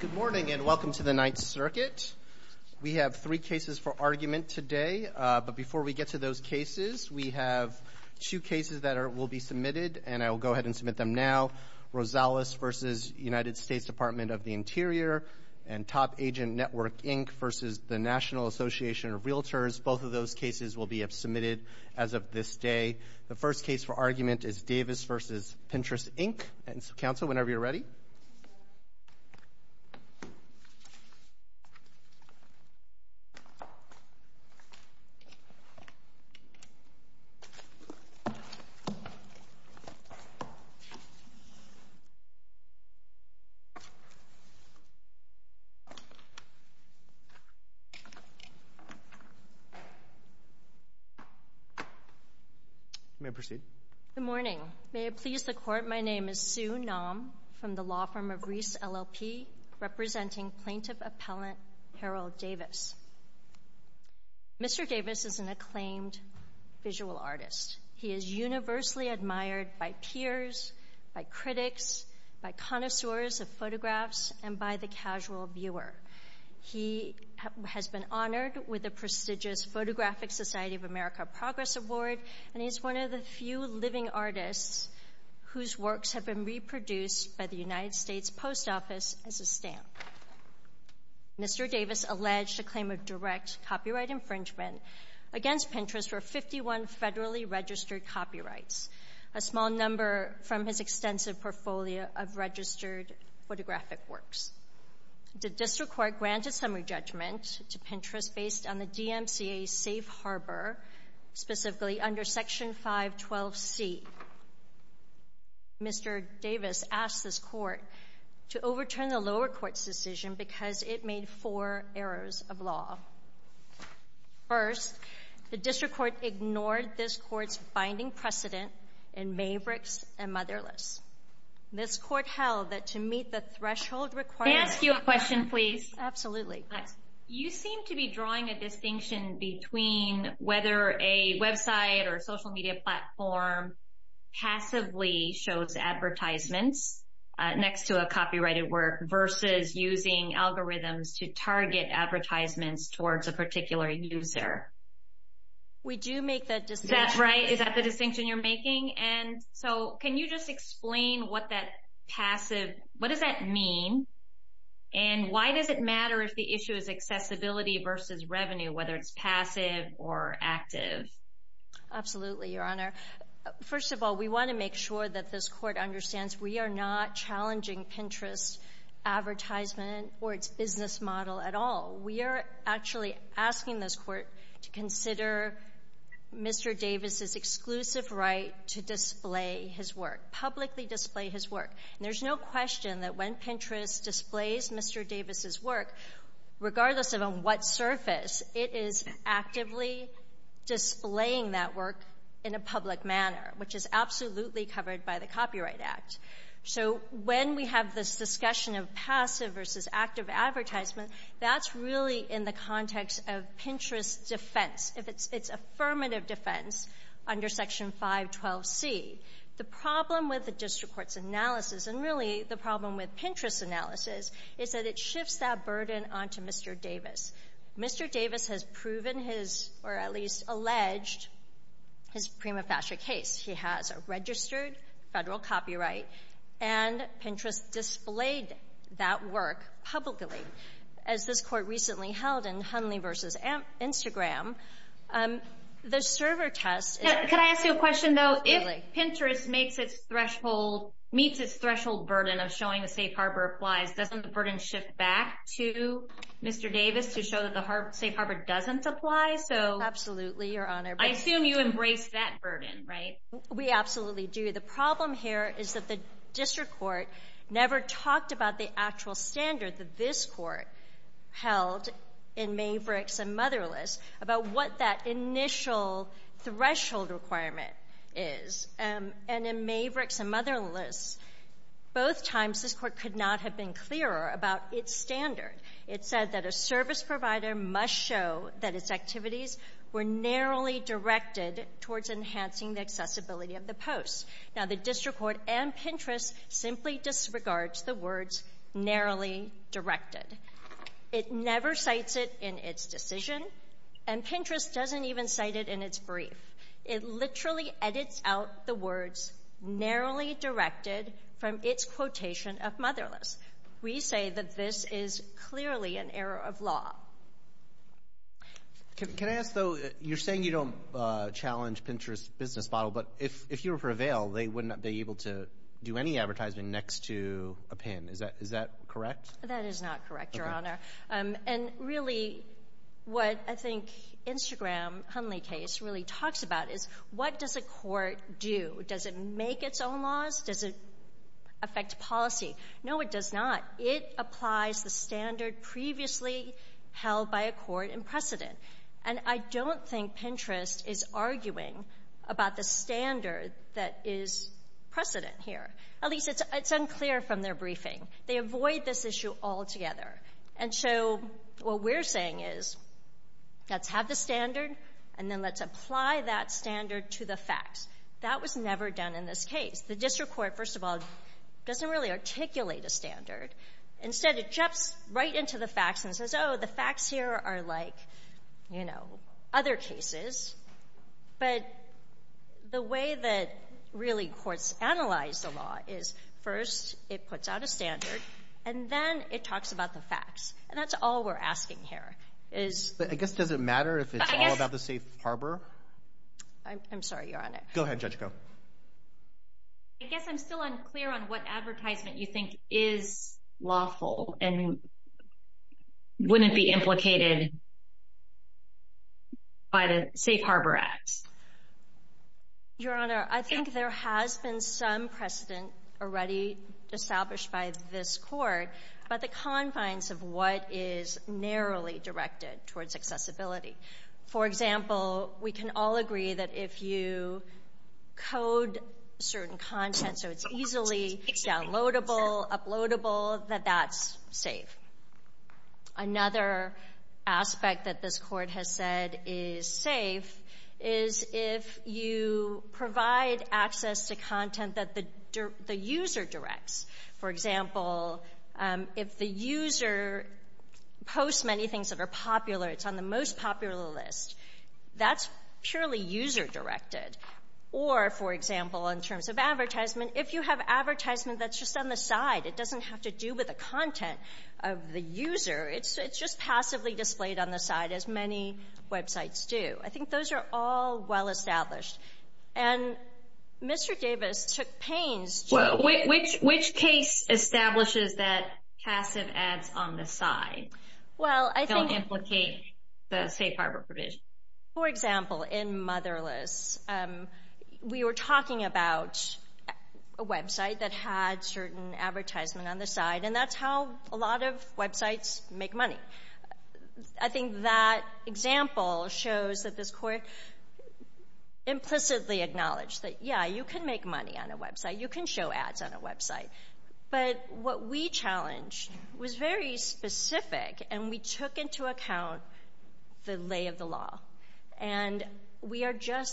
Good morning and welcome to the Ninth Circuit. We have three cases for argument today, but before we get to those cases, we have two cases that will be submitted and I will go ahead and submit them now. Rosales v. United States Department of the Interior and Top Agent Network, Inc. v. the National Association of Realtors. Both of those cases will be submitted as of this day. The first case for argument is Davis v. Pinterest, Inc. and so, counsel, whenever you're ready. May I proceed? Good morning. May it please the Court, my name is Sue Naum from the law firm of Reese, LLP, representing Plaintiff Appellant Harold Davis. Mr. Davis is an visual artist. He is universally admired by peers, by critics, by connoisseurs of photographs, and by the casual viewer. He has been honored with a prestigious Photographic Society of America Progress Award and he's one of the few living artists whose works have been reproduced by the United States Post Office as a stamp. Mr. Davis alleged a claim of direct copyright infringement against Pinterest for 51 federally registered copyrights, a small number from his extensive portfolio of registered photographic works. The district court granted summary judgment to Pinterest based on the DMCA safe harbor, specifically under Section 512C. Mr. Davis asked this court to overturn the lower court's decision because it made four errors of law. First, the district court ignored this court's binding precedent in Mavericks and Motherless. This court held that to meet the threshold required... May I ask you a question, please? Absolutely. You seem to be drawing a distinction between whether a website or social media platform passively shows advertisements next to a copyrighted versus using algorithms to target advertisements towards a particular user. We do make that distinction. That's right. Is that the distinction you're making? And so, can you just explain what that passive... What does that mean and why does it matter if the issue is accessibility versus revenue, whether it's passive or active? Absolutely, Your Honor. First of all, we want to make sure that this court understands we are not challenging Pinterest's advertisement or its business model at all. We are actually asking this court to consider Mr. Davis's exclusive right to display his work, publicly display his work. And there's no question that when Pinterest displays Mr. Davis's work, regardless of on what surface, it is actively displaying that work in a public manner, which is absolutely covered by the Copyright Act. So when we have this discussion of passive versus active advertisement, that's really in the context of Pinterest's defense, if it's affirmative defense under Section 512C. The problem with the district court's analysis, and really the problem with Pinterest's analysis, is that it shifts that burden onto Mr. Davis. Mr. Davis has proven his, or at least alleged, his prima facie case. He has a registered federal copyright, and Pinterest displayed that work publicly. As this court recently held in Hunley versus Instagram, the server test... Could I ask you a question, though? If Pinterest meets its threshold burden of showing a Safe Harbor applies, doesn't the burden shift back to Mr. Davis to show that the Safe Harbor doesn't apply? Absolutely, Your Honor. I assume you embrace that burden, right? We absolutely do. The problem here is that the district court never talked about the actual standard that this court held in Mavericks and Motherless, about what that initial threshold requirement is. And in Mavericks and Motherless, both times this court could not have been clearer about its activities were narrowly directed towards enhancing the accessibility of the post. Now, the district court and Pinterest simply disregards the words narrowly directed. It never cites it in its decision, and Pinterest doesn't even cite it in its brief. It literally edits out the words narrowly directed from its of law. Can I ask, though, you're saying you don't challenge Pinterest's business model, but if you were for a veil, they wouldn't be able to do any advertising next to a pin. Is that correct? That is not correct, Your Honor. And really, what I think Instagram Hunley case really talks about is what does a court do? Does it make its own laws? Does it affect policy? No, it does not. It applies the held by a court in precedent. And I don't think Pinterest is arguing about the standard that is precedent here. At least it's unclear from their briefing. They avoid this issue altogether. And so what we're saying is, let's have the standard and then let's apply that standard to the facts. That was never done in this case. The district court, first of all, doesn't really articulate a standard. Instead, it jumps right into the facts and says, Oh, the facts here are like, you know, other cases. But the way that really courts analyze the law is first it puts out a standard and then it talks about the facts. And that's all we're asking here is, I guess, does it matter if it's all about the safe harbor? I'm sorry. You're on it. Go ahead, Judge. Go. I guess I'm still unclear on what advertisement you think is lawful and wouldn't be implicated by the Safe Harbor Act. Your Honor, I think there has been some precedent already established by this court about the confines of what is narrowly directed towards accessibility. For example, we can all agree that if you code certain content so it's easily downloadable, uploadable, that that's safe. Another aspect that this court has said is safe is if you provide access to content that the user directs. For example, if the user posts many things that are popular, it's on the most popular list. That's purely user-directed. Or, for example, in terms of advertisement, if you have advertisement that's just on the side, it doesn't have to do with the content of the user. It's just passively displayed on the side as many websites do. I think those are all well established. And Mr. Davis took pains to... Well, which case establishes that passive ads on the side don't implicate the Safe Harbor provision? For example, in Motherless, we were talking about a website that had certain advertisement on the side, and that's how a lot of websites make money. I think that example shows that this court implicitly acknowledged that, yeah, you can make money on a website. You can show ads on a website. But what we are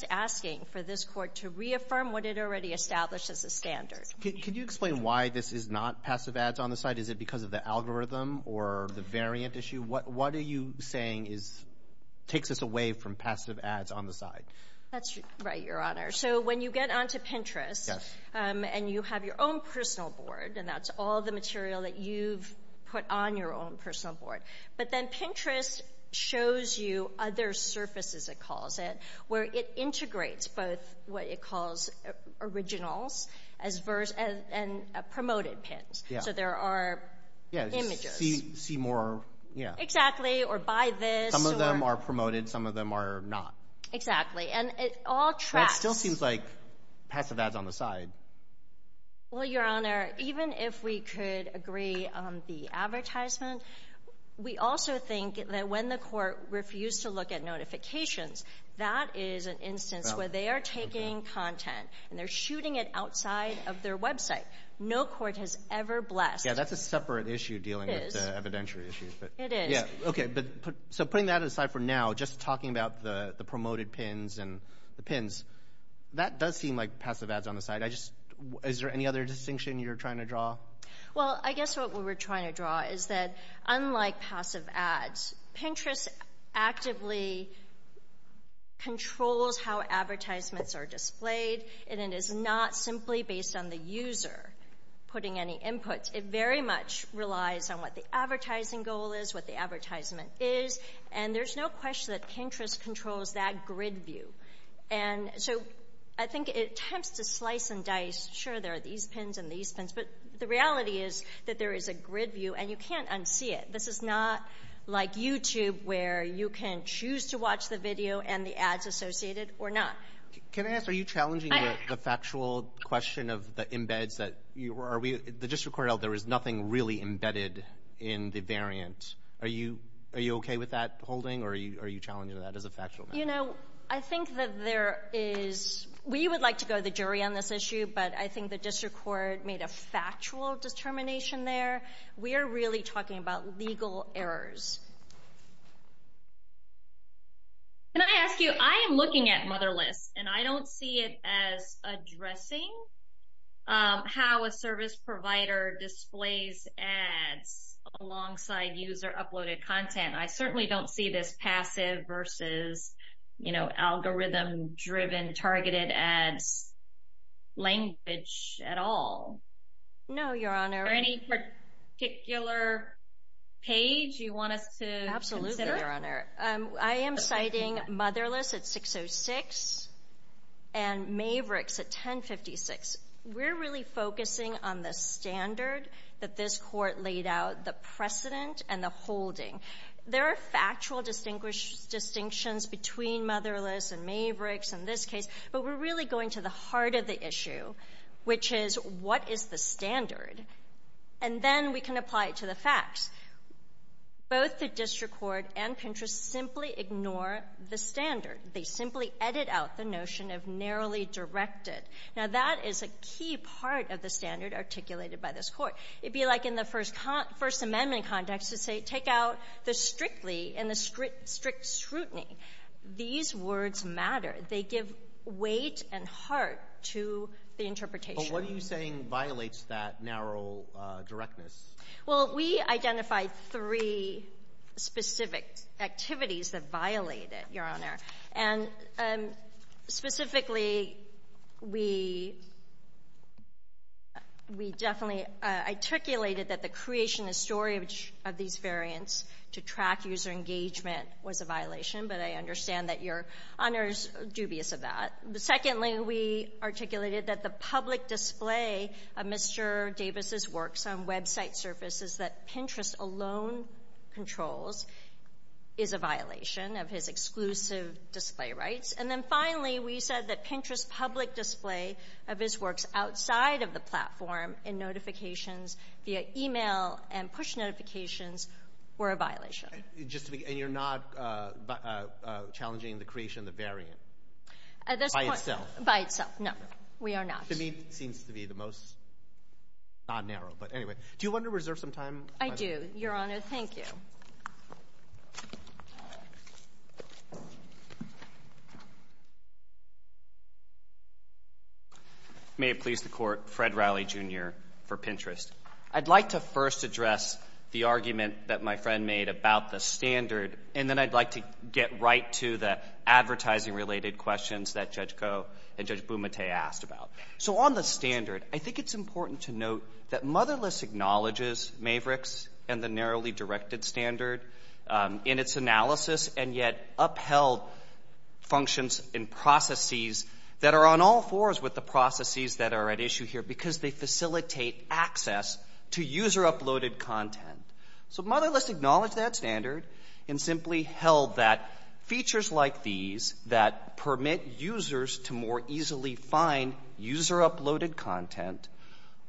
asking for this court to reaffirm what it already established as a standard. Could you explain why this is not passive ads on the side? Is it because of the algorithm or the variant issue? What are you saying takes us away from passive ads on the side? That's right, Your Honor. So when you get onto Pinterest, and you have your own personal board, and that's all the material that you've put on your own personal board. But then Pinterest shows you other surfaces, it calls it, where it integrates both what it calls originals and promoted pins. So there are images. Yeah, you see more, yeah. Exactly, or buy this, or... Some of them are promoted, some of them are not. Exactly. And it all tracks... That still seems like passive ads on the side. Well, Your Honor, even if we could agree on the advertisement, we also think that when the court refused to look at notifications, that is an instance where they are taking content, and they're shooting it outside of their website. No court has ever blessed... Yeah, that's a separate issue dealing with evidentiary issues. It is. Okay, so putting that aside for now, just talking about the promoted pins and the pins, that does seem like passive ads on the side. Is there any other distinction you're trying to draw? Well, I guess what we were trying to draw is that, unlike passive ads, Pinterest actively controls how advertisements are displayed, and it is not simply based on the user putting any input. It very much relies on what the advertising goal is, what the advertisement is, and there's no question that Pinterest controls that grid view. And so, I think it attempts to slice and dice, sure, there are these pins and these pins, but the reality is that there is a grid view, and you can't unsee it. This is not like YouTube, where you can choose to watch the video and the ads associated or not. Can I ask, are you challenging the factual question of the embeds that... The district court held there was nothing really embedded in the variant. Are you okay with that holding, or are you challenging that as a factual matter? You know, I think that there is... We would like to go to the jury on this issue, but I think the district court made a factual determination there. We are really talking about legal errors. Can I ask you, I am looking at Motherless, and I don't see it as addressing how a service provider displays ads alongside user uploaded content. I certainly don't see this passive versus, you know, algorithm-driven, targeted ads language at all. No, Your Honor. For any particular page you want us to consider? Absolutely, Your Honor. I am citing Motherless at 6.06 and Mavericks at 10.56. We are really focusing on the standard that this court laid out, the precedent and the holding. There are factual distinctions between Motherless and Mavericks in this case, but we are really going to the heart of the issue, which is, what is the standard? And then we can apply it to the facts. Both the district court and Pinterest simply ignore the standard. They simply edit out the notion of narrowly directed. Now, that is a key part of the standard articulated by this court. It'd be like in the First Amendment context to say, take out the strictly and the strict scrutiny. These words matter. They give weight and heart to the interpretation. But what are you saying violates that narrow directness? Well, we identified three specific activities that violate it, Your Honor. And specifically, we definitely articulated that the creation and storage of these variants to track user engagement was a violation. But I understand that Your Honor is dubious of that. Secondly, we articulated that the public display of Mr. Davis's works on website surfaces that Pinterest alone controls is a violation of his exclusive display rights. And then finally, we said that Pinterest's public display of his works outside of the platform in notifications via email and push notifications were a violation. And you're not challenging the creation of the variant by itself? By itself, no, we are not. To me, it seems to be the most non-narrow. But anyway, do you want to reserve some time? I do, Your Honor. Thank you. May it please the Court, Fred Rowley, Jr. for Pinterest. I'd like to first address the argument that my friend made about the standard, and then I'd like to get right to the advertising-related questions that Judge Koh and Judge Bumate asked about. So on the standard, I think it's important to note that Motherless acknowledges Mavericks and the narrowly directed standard in its analysis and yet upheld functions and processes that are on all fours with the processes that are at issue here because they facilitate access to user-uploaded content. So Motherless acknowledged that standard and simply held that features like these that permit users to more easily find user-uploaded content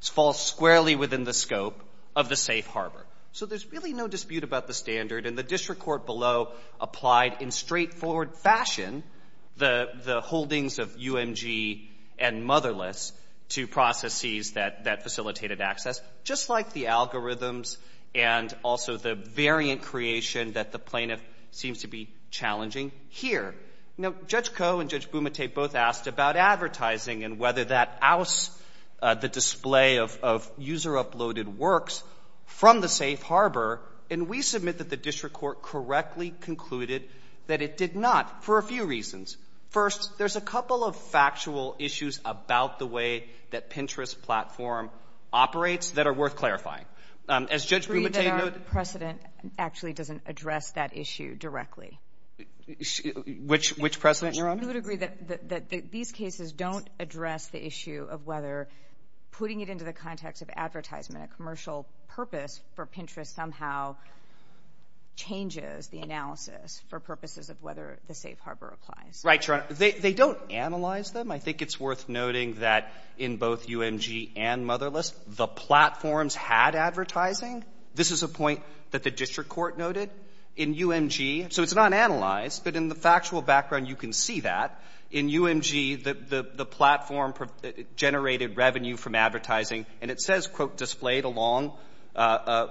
fall squarely within the scope of the safe harbor. So there's really no dispute about the standard. And the district court below applied in straightforward fashion the holdings of UMG and Motherless to processes that facilitated access, just like the algorithms and also the variant creation that the plaintiff seems to be challenging here. Now, Judge Koh and Judge Bumate both asked about advertising and whether that ousts the display of user-uploaded works from the safe harbor. And we submit that the district court correctly concluded that it did not for a few reasons. First, there's a couple of factual issues about the way that Pinterest platform operates that are worth clarifying. As Judge Bumate noted the precedent actually doesn't address that issue directly. Which precedent, Your Honor? We would agree that these cases don't address the issue of whether putting it into the context of advertisement, a commercial purpose for Pinterest somehow changes the analysis for purposes of whether the safe harbor applies. Right, Your Honor. They don't analyze them. I think it's worth noting that in both UMG and Motherless, the platforms had advertising. This is a point that the district court noted. In UMG, so it's not analyzed, but in the factual background you can see that. In UMG, the platform generated revenue from advertising. And it says, quote, displayed along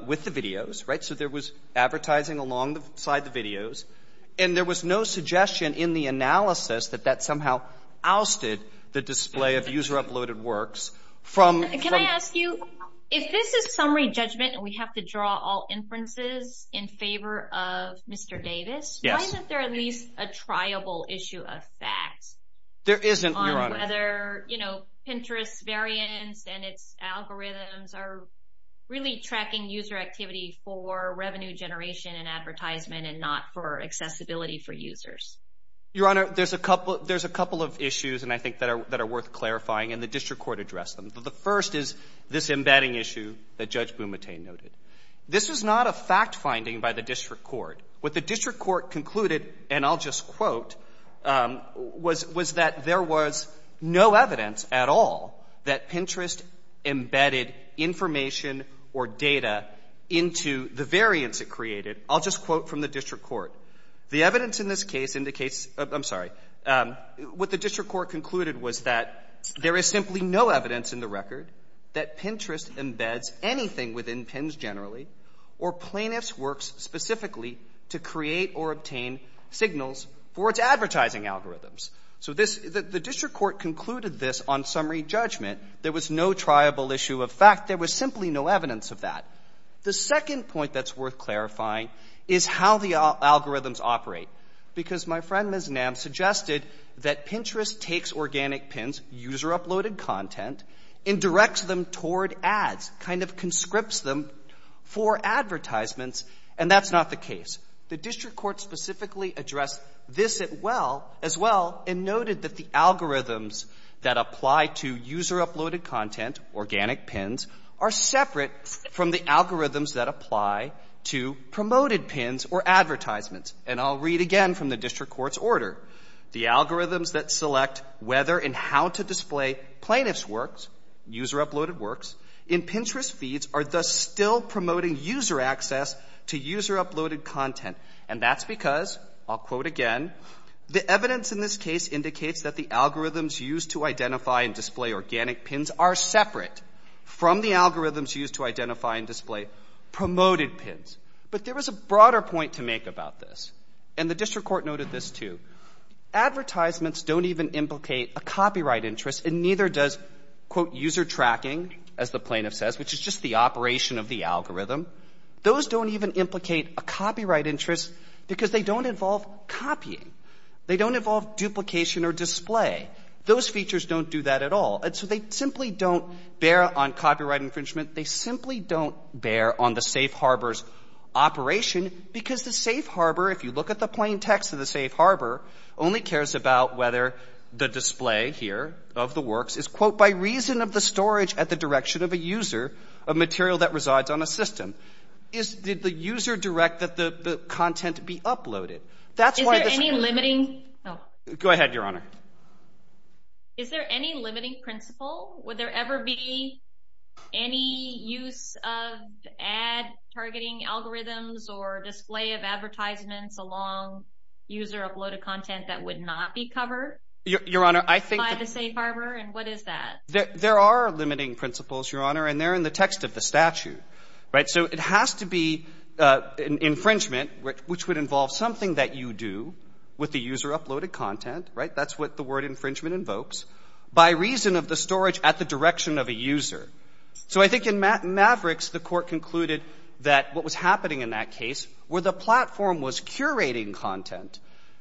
with the videos. Right? So there was advertising alongside the videos. And there was no suggestion in the analysis that that somehow ousted the display of user-uploaded works from. Can I ask you, if this is summary judgment and we have to draw all inferences in favor of Mr. Davis. Yes. Isn't there at least a triable issue of facts? There isn't, Your Honor. On whether, you know, Pinterest's variants and its algorithms are really tracking user activity for revenue generation and advertisement and not for accessibility for users. Your Honor, there's a couple of issues, and I think that are worth clarifying, and the district court addressed them. The first is this embedding issue that Judge Bumate noted. This is not a fact-finding by the district court. What the district court concluded, and I'll just quote, was that there was no evidence at all that Pinterest embedded information or data into the variants it created. I'll just quote from the district court. The evidence in this case indicates — I'm sorry. What the district court concluded was that there is simply no evidence in the record that Pinterest embeds anything within PINs generally or plaintiffs' works specifically to create or obtain signals for its advertising algorithms. So this — the district court concluded this on summary judgment. There was no triable issue of fact. There was simply no evidence of that. The second point that's worth clarifying is how the algorithms operate. Because my friend, Ms. Nam, suggested that Pinterest takes organic PINs, user-uploaded content, and directs them toward ads, kind of conscripts them for advertisements, and that's not the case. The district court specifically addressed this as well and noted that the algorithms that apply to user-uploaded content, organic PINs, are separate from the algorithms that apply to promoted PINs or advertisements. And I'll read again from the district court's order. The algorithms that select whether and how to display plaintiffs' works, user-uploaded works, in Pinterest feeds are thus still promoting user access to user-uploaded content. And that's because, I'll quote again, the evidence in this case indicates that the algorithms used to identify and display organic PINs are separate from the algorithms used to identify and display promoted PINs. But there was a broader point to make about this. And the district court noted this, too. Advertisements don't even implicate a copyright interest and neither does, quote, user tracking, as the plaintiff says, which is just the operation of the algorithm. Those don't even implicate a copyright interest because they don't involve copying. They don't involve duplication or display. Those features don't do that at all. And so they simply don't bear on copyright infringement. They simply don't bear on the safe harbor's operation because the safe harbor, if you look at the plain text of the safe harbor, only cares about whether the display here of the works is, quote, by reason of the storage at the direction of a user of material that resides on a system. Is, did the user direct that the content be uploaded? That's why this is. Is there any limiting? Oh. Go ahead, Your Honor. Is there any limiting principle? Would there ever be any use of ad targeting algorithms or display of advertisements along user uploaded content that would not be covered? Your Honor, I think. By the safe harbor? And what is that? There are limiting principles, Your Honor, and they're in the text of the statute. Right? So it has to be infringement, which would involve something that you do with the user uploaded content. Right? That's what the word infringement invokes. By reason of the storage at the direction of a user. So I think in Mavericks, the court concluded that what was happening in that case where the platform was curating content,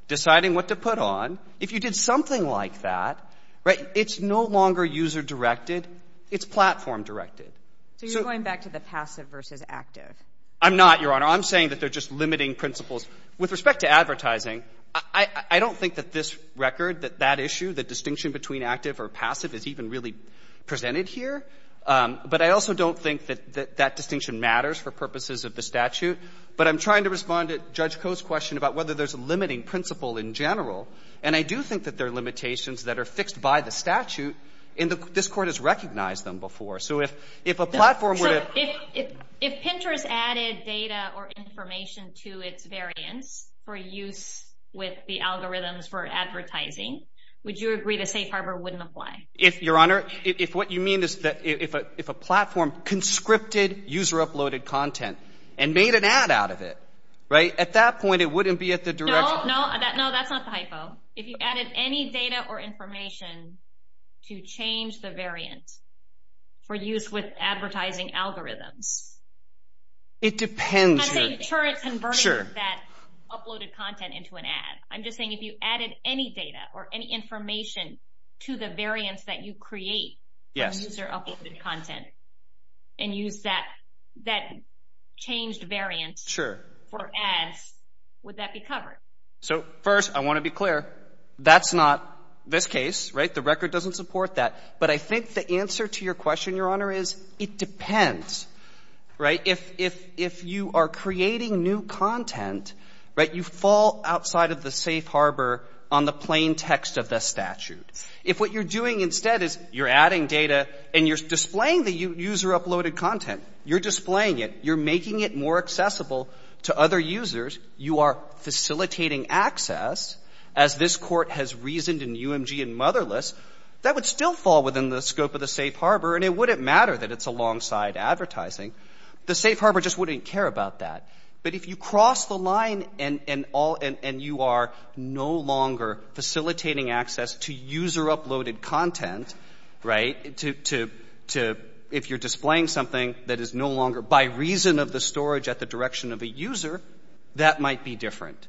deciding what to put on. If you did something like that, right, it's no longer user directed. It's platform directed. So you're going back to the passive versus active. I'm not, Your Honor. I'm saying that they're just limiting principles. With respect to advertising, I don't think that this record, that that issue, that distinction between active or passive is even really presented here. But I also don't think that that distinction matters for purposes of the statute. But I'm trying to respond to Judge Koh's question about whether there's a limiting principle in general. And I do think that there are limitations that are fixed by the statute and this court has recognized them before. So if a platform were to. If Pinterest added data or information to its variants for use with the algorithms for advertising, would you agree the safe harbor wouldn't apply? If, Your Honor, if what you mean is that if a platform conscripted user uploaded content and made an ad out of it, right, at that point it wouldn't be at the direction. No, no, that's not the hypo. If you added any data or information to change the variant for use with advertising algorithms. It depends. I'm saying, sure, it's converting that uploaded content into an ad. I'm just saying if you added any data or any information to the variants that you create for user uploaded content and use that changed variant for ads, would that be covered? So first, I want to be clear, that's not this case, right? The record doesn't support that. But I think the answer to your question, Your Honor, is it depends, right? If you are creating new content, right, you fall outside of the safe harbor on the plain text of the statute. If what you're doing instead is you're adding data and you're displaying the user uploaded content, you're displaying it, you're making it more accessible to other users, you are facilitating access, as this court has reasoned in UMG and Motherless, that would still fall within the scope of the safe harbor and it wouldn't matter that it's alongside advertising. The safe harbor just wouldn't care about that. But if you cross the line and you are no longer facilitating access to user uploaded content, right, to if you're displaying something that is no longer by reason of the storage at the direction of a user, that might be different.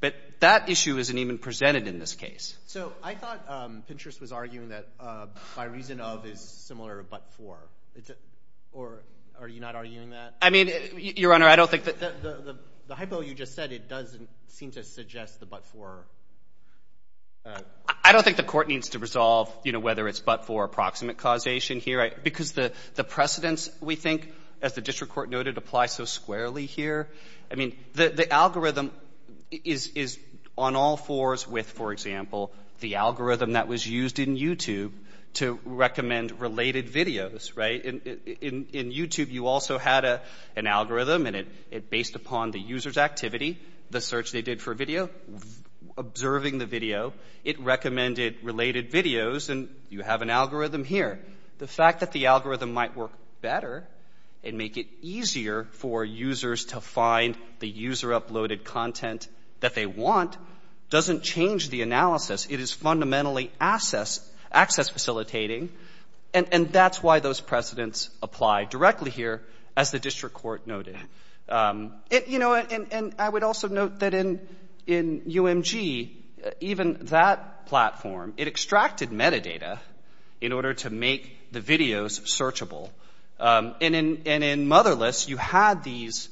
But that issue isn't even presented in this case. So I thought Pinterest was arguing that by reason of is similar to but-for. Or are you not arguing that? I mean, Your Honor, I don't think that the hypo you just said, it doesn't seem to suggest the but-for. I don't think the court needs to resolve, you know, whether it's but-for or approximate causation here because the precedents, we think, as the district court noted, apply so squarely here. I mean, the algorithm is on all fours with, for example, the algorithm that was used in YouTube to recommend related videos, right? In YouTube, you also had an algorithm and it based upon the user's activity, the search they did for video, observing the video. It recommended related videos and you have an algorithm here. The fact that the algorithm might work better and make it easier for users to find the user-uploaded content that they want doesn't change the analysis. It is fundamentally access facilitating and that's why those precedents apply directly here, as the district court noted. You know, and I would also note that in UMG, even that platform, it extracted metadata in order to make the videos searchable. And in Motherless, you had these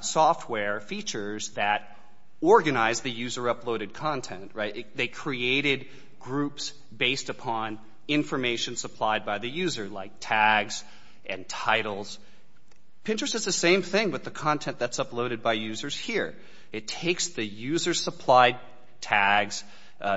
software features that organized the user-uploaded content, right? They created groups based upon information supplied by the user, like tags and titles. Pinterest does the same thing with the content that's uploaded by users here. It takes the user-supplied tags,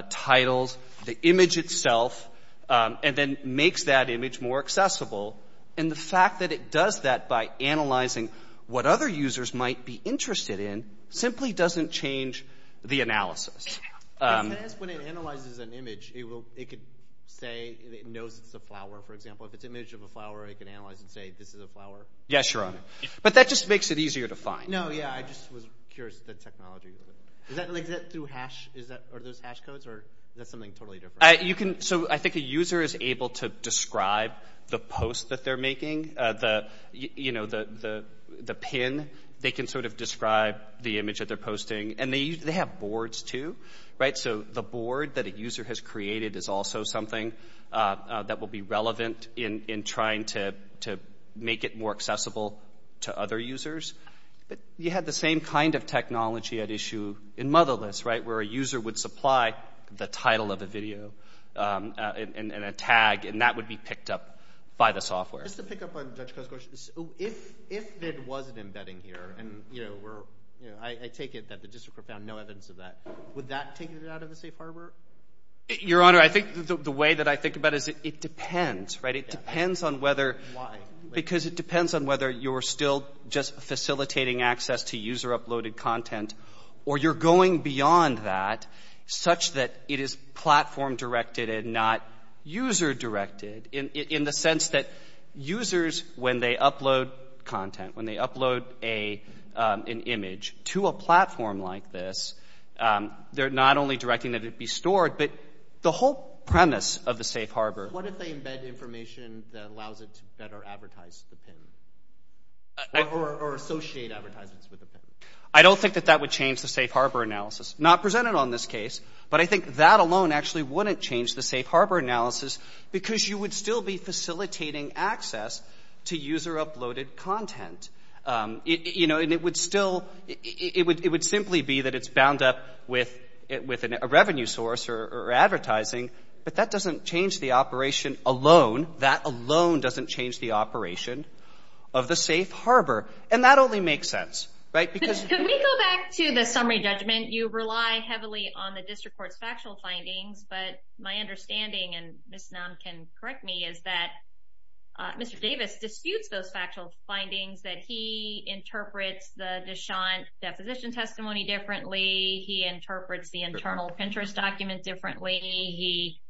titles, the image itself, and then makes that image more accessible. And the fact that it does that by analyzing what other users might be interested in simply doesn't change the analysis. I can ask when it analyzes an image, it could say it knows it's a flower, for example. If it's an image of a flower, it can analyze and say, this is a flower. Yes, Your Honor. But that just makes it easier to find. No, yeah, I just was curious about the technology. Is that through hash? Are those hash codes? Or is that something totally different? So I think a user is able to describe the post that they're making, the pin. They can sort of describe the image that they're posting. And they have boards, too, right? So the board that a user has created is also something that will be relevant in trying to make it more accessible to other users. But you had the same kind of technology at issue in Motherless, right, where a user would supply the title of a video and a tag, and that would be picked up by the software. Just to pick up on Judge Coe's question, if there was an embedding here, and I take it that the district court found no evidence of that, would that take it out of the safe harbor? Your Honor, I think the way that I think about it is it depends, right? It depends on whether... Why? Because it depends on whether you're still just facilitating access to user-uploaded content, or you're going beyond that such that it is platform-directed and not user-directed in the sense that users, when they upload content, when they upload an image to a platform like this, they're not only directing that it be stored, but the whole premise of the safe harbor... ...is to advertise the PIN, or associate advertisements with the PIN. I don't think that that would change the safe harbor analysis. Not presented on this case, but I think that alone actually wouldn't change the safe harbor analysis because you would still be facilitating access to user-uploaded content. You know, and it would still... It would simply be that it's bound up with a revenue source or advertising, but that doesn't change the operation alone. That alone doesn't change the operation of the safe harbor, and that only makes sense, right? Because... Could we go back to the summary judgment? You rely heavily on the district court's factual findings, but my understanding, and Ms. Nam can correct me, is that Mr. Davis disputes those factual findings, that he interprets the Deschamps' deposition testimony differently. He interprets the internal Pinterest document differently. He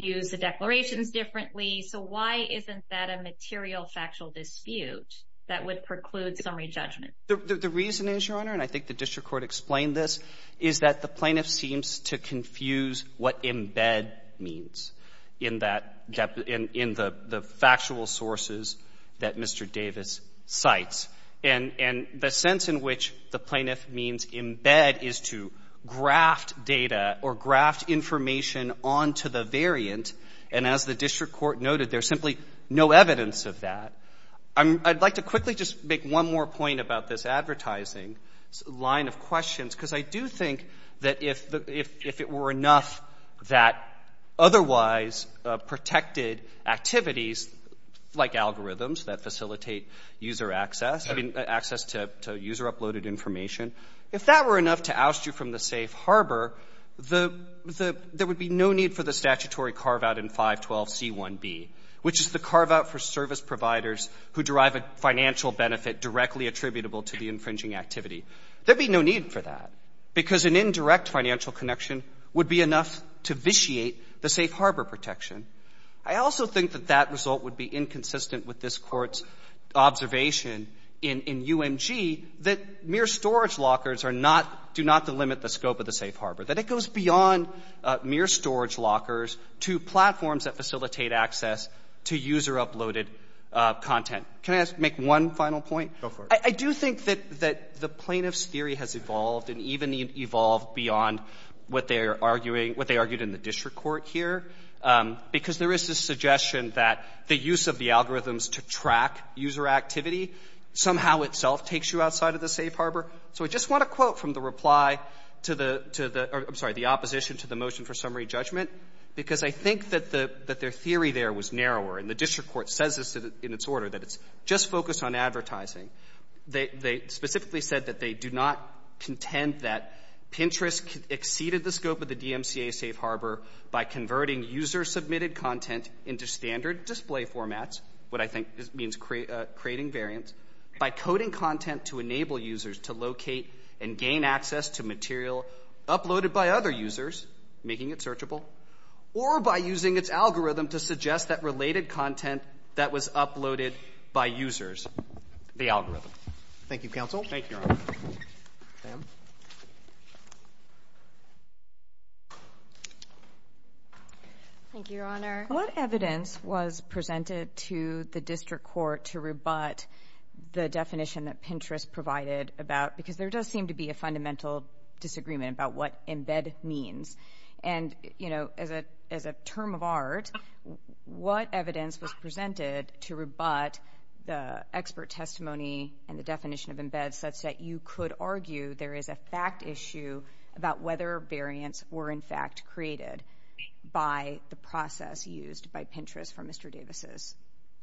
views the declarations differently. So why isn't that a material factual dispute that would preclude summary judgment? The reason is, Your Honor, and I think the district court explained this, is that the plaintiff seems to confuse what embed means in the factual sources that Mr. Davis cites. And the sense in which the plaintiff means embed is to graft data or graft information onto the variant, and as the district court noted, there's simply no evidence of that. I'd like to quickly just make one more point about this advertising line of questions, because I do think that if it were enough that otherwise protected activities, like algorithms that facilitate user access, I mean, access to user-uploaded information, if that were enough to oust you from the safe harbor, there would be no need for the statutory carve-out in 512c1b, which is the carve-out for service providers who derive a financial benefit directly attributable to the infringing activity. There'd be no need for that, because an indirect financial connection would be enough to vitiate the safe harbor protection. I also think that that result would be inconsistent with this Court's observation in UMG, that mere storage lockers are not, do not delimit the scope of the safe harbor, that it goes beyond mere storage lockers to platforms that facilitate access to user-uploaded content. Can I make one final point? Go for it. I do think that the plaintiff's theory has evolved and even evolved beyond what they are arguing, what they argued in the district court here, because there is this suggestion that the use of the algorithms to track user activity somehow itself takes you outside of the safe harbor. So I just want to quote from the reply to the, I'm sorry, the opposition to the motion for summary judgment, because I think that their theory there was narrower, and the district court says this in its order, that it's just focused on advertising. They specifically said that they do not contend that Pinterest exceeded the scope of the DMCA safe harbor by converting user-submitted content into standard display formats, what I think means creating variants, by coding content to enable users to locate and gain access to material uploaded by other users, making it searchable, or by using its algorithm to suggest that related content that was uploaded by users. The algorithm. Thank you, counsel. Thank you, Your Honor. Ma'am. Thank you, Your Honor. What evidence was presented to the district court to rebut the definition that Pinterest provided about, because there does seem to be a fundamental disagreement about what embed means. And, you know, as a term of art, what evidence was presented to rebut the expert testimony and the definition of embed such that you could argue there is a fact issue about whether variants were, in fact, created by the process used by Pinterest for Mr. Davis's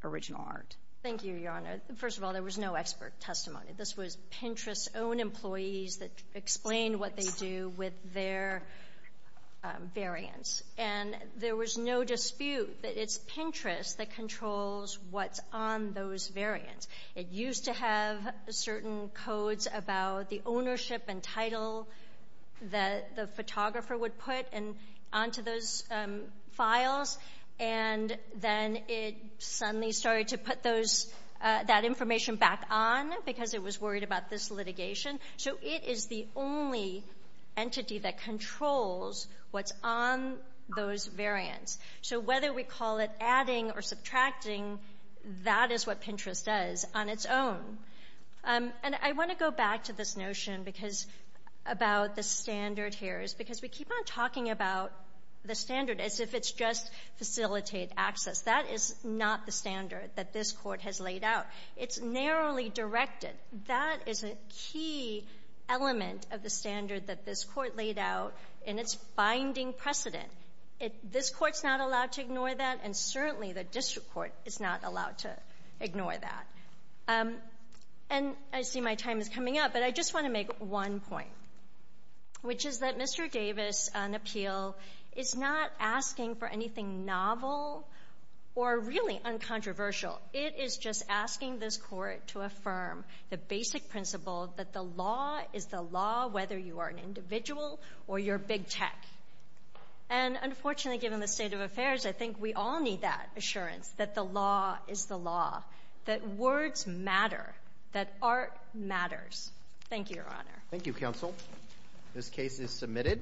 original art? Thank you, Your Honor. First of all, there was no expert testimony. This was Pinterest's own employees that explained what they do with their variants. And there was no dispute that it's Pinterest that controls what's on those variants. It used to have certain codes about the ownership and title that the photographer would put onto those files. And then it suddenly started to put that information back on because it was worried about this litigation. So it is the only entity that controls what's on those variants. So whether we call it adding or subtracting, that is what Pinterest does on its own. And I want to go back to this notion about the standard here, because we keep on talking about the standard as if it's just facilitate access. That is not the standard that this court has laid out. It's narrowly directed. That is a key element of the standard that this court laid out in its binding precedent. This court's not allowed to ignore that, and certainly the district court is not allowed to ignore that. And I see my time is coming up, but I just want to make one point, which is that Mr. Davis on appeal is not asking for anything novel or really uncontroversial. It is just asking this court to affirm the basic principle that the law is the law, whether you are an individual or you're big tech. And unfortunately, given the state of affairs, I think we all need that assurance that the law is the law, that words matter, that art matters. Thank you, Your Honor. Thank you, counsel. This case is submitted.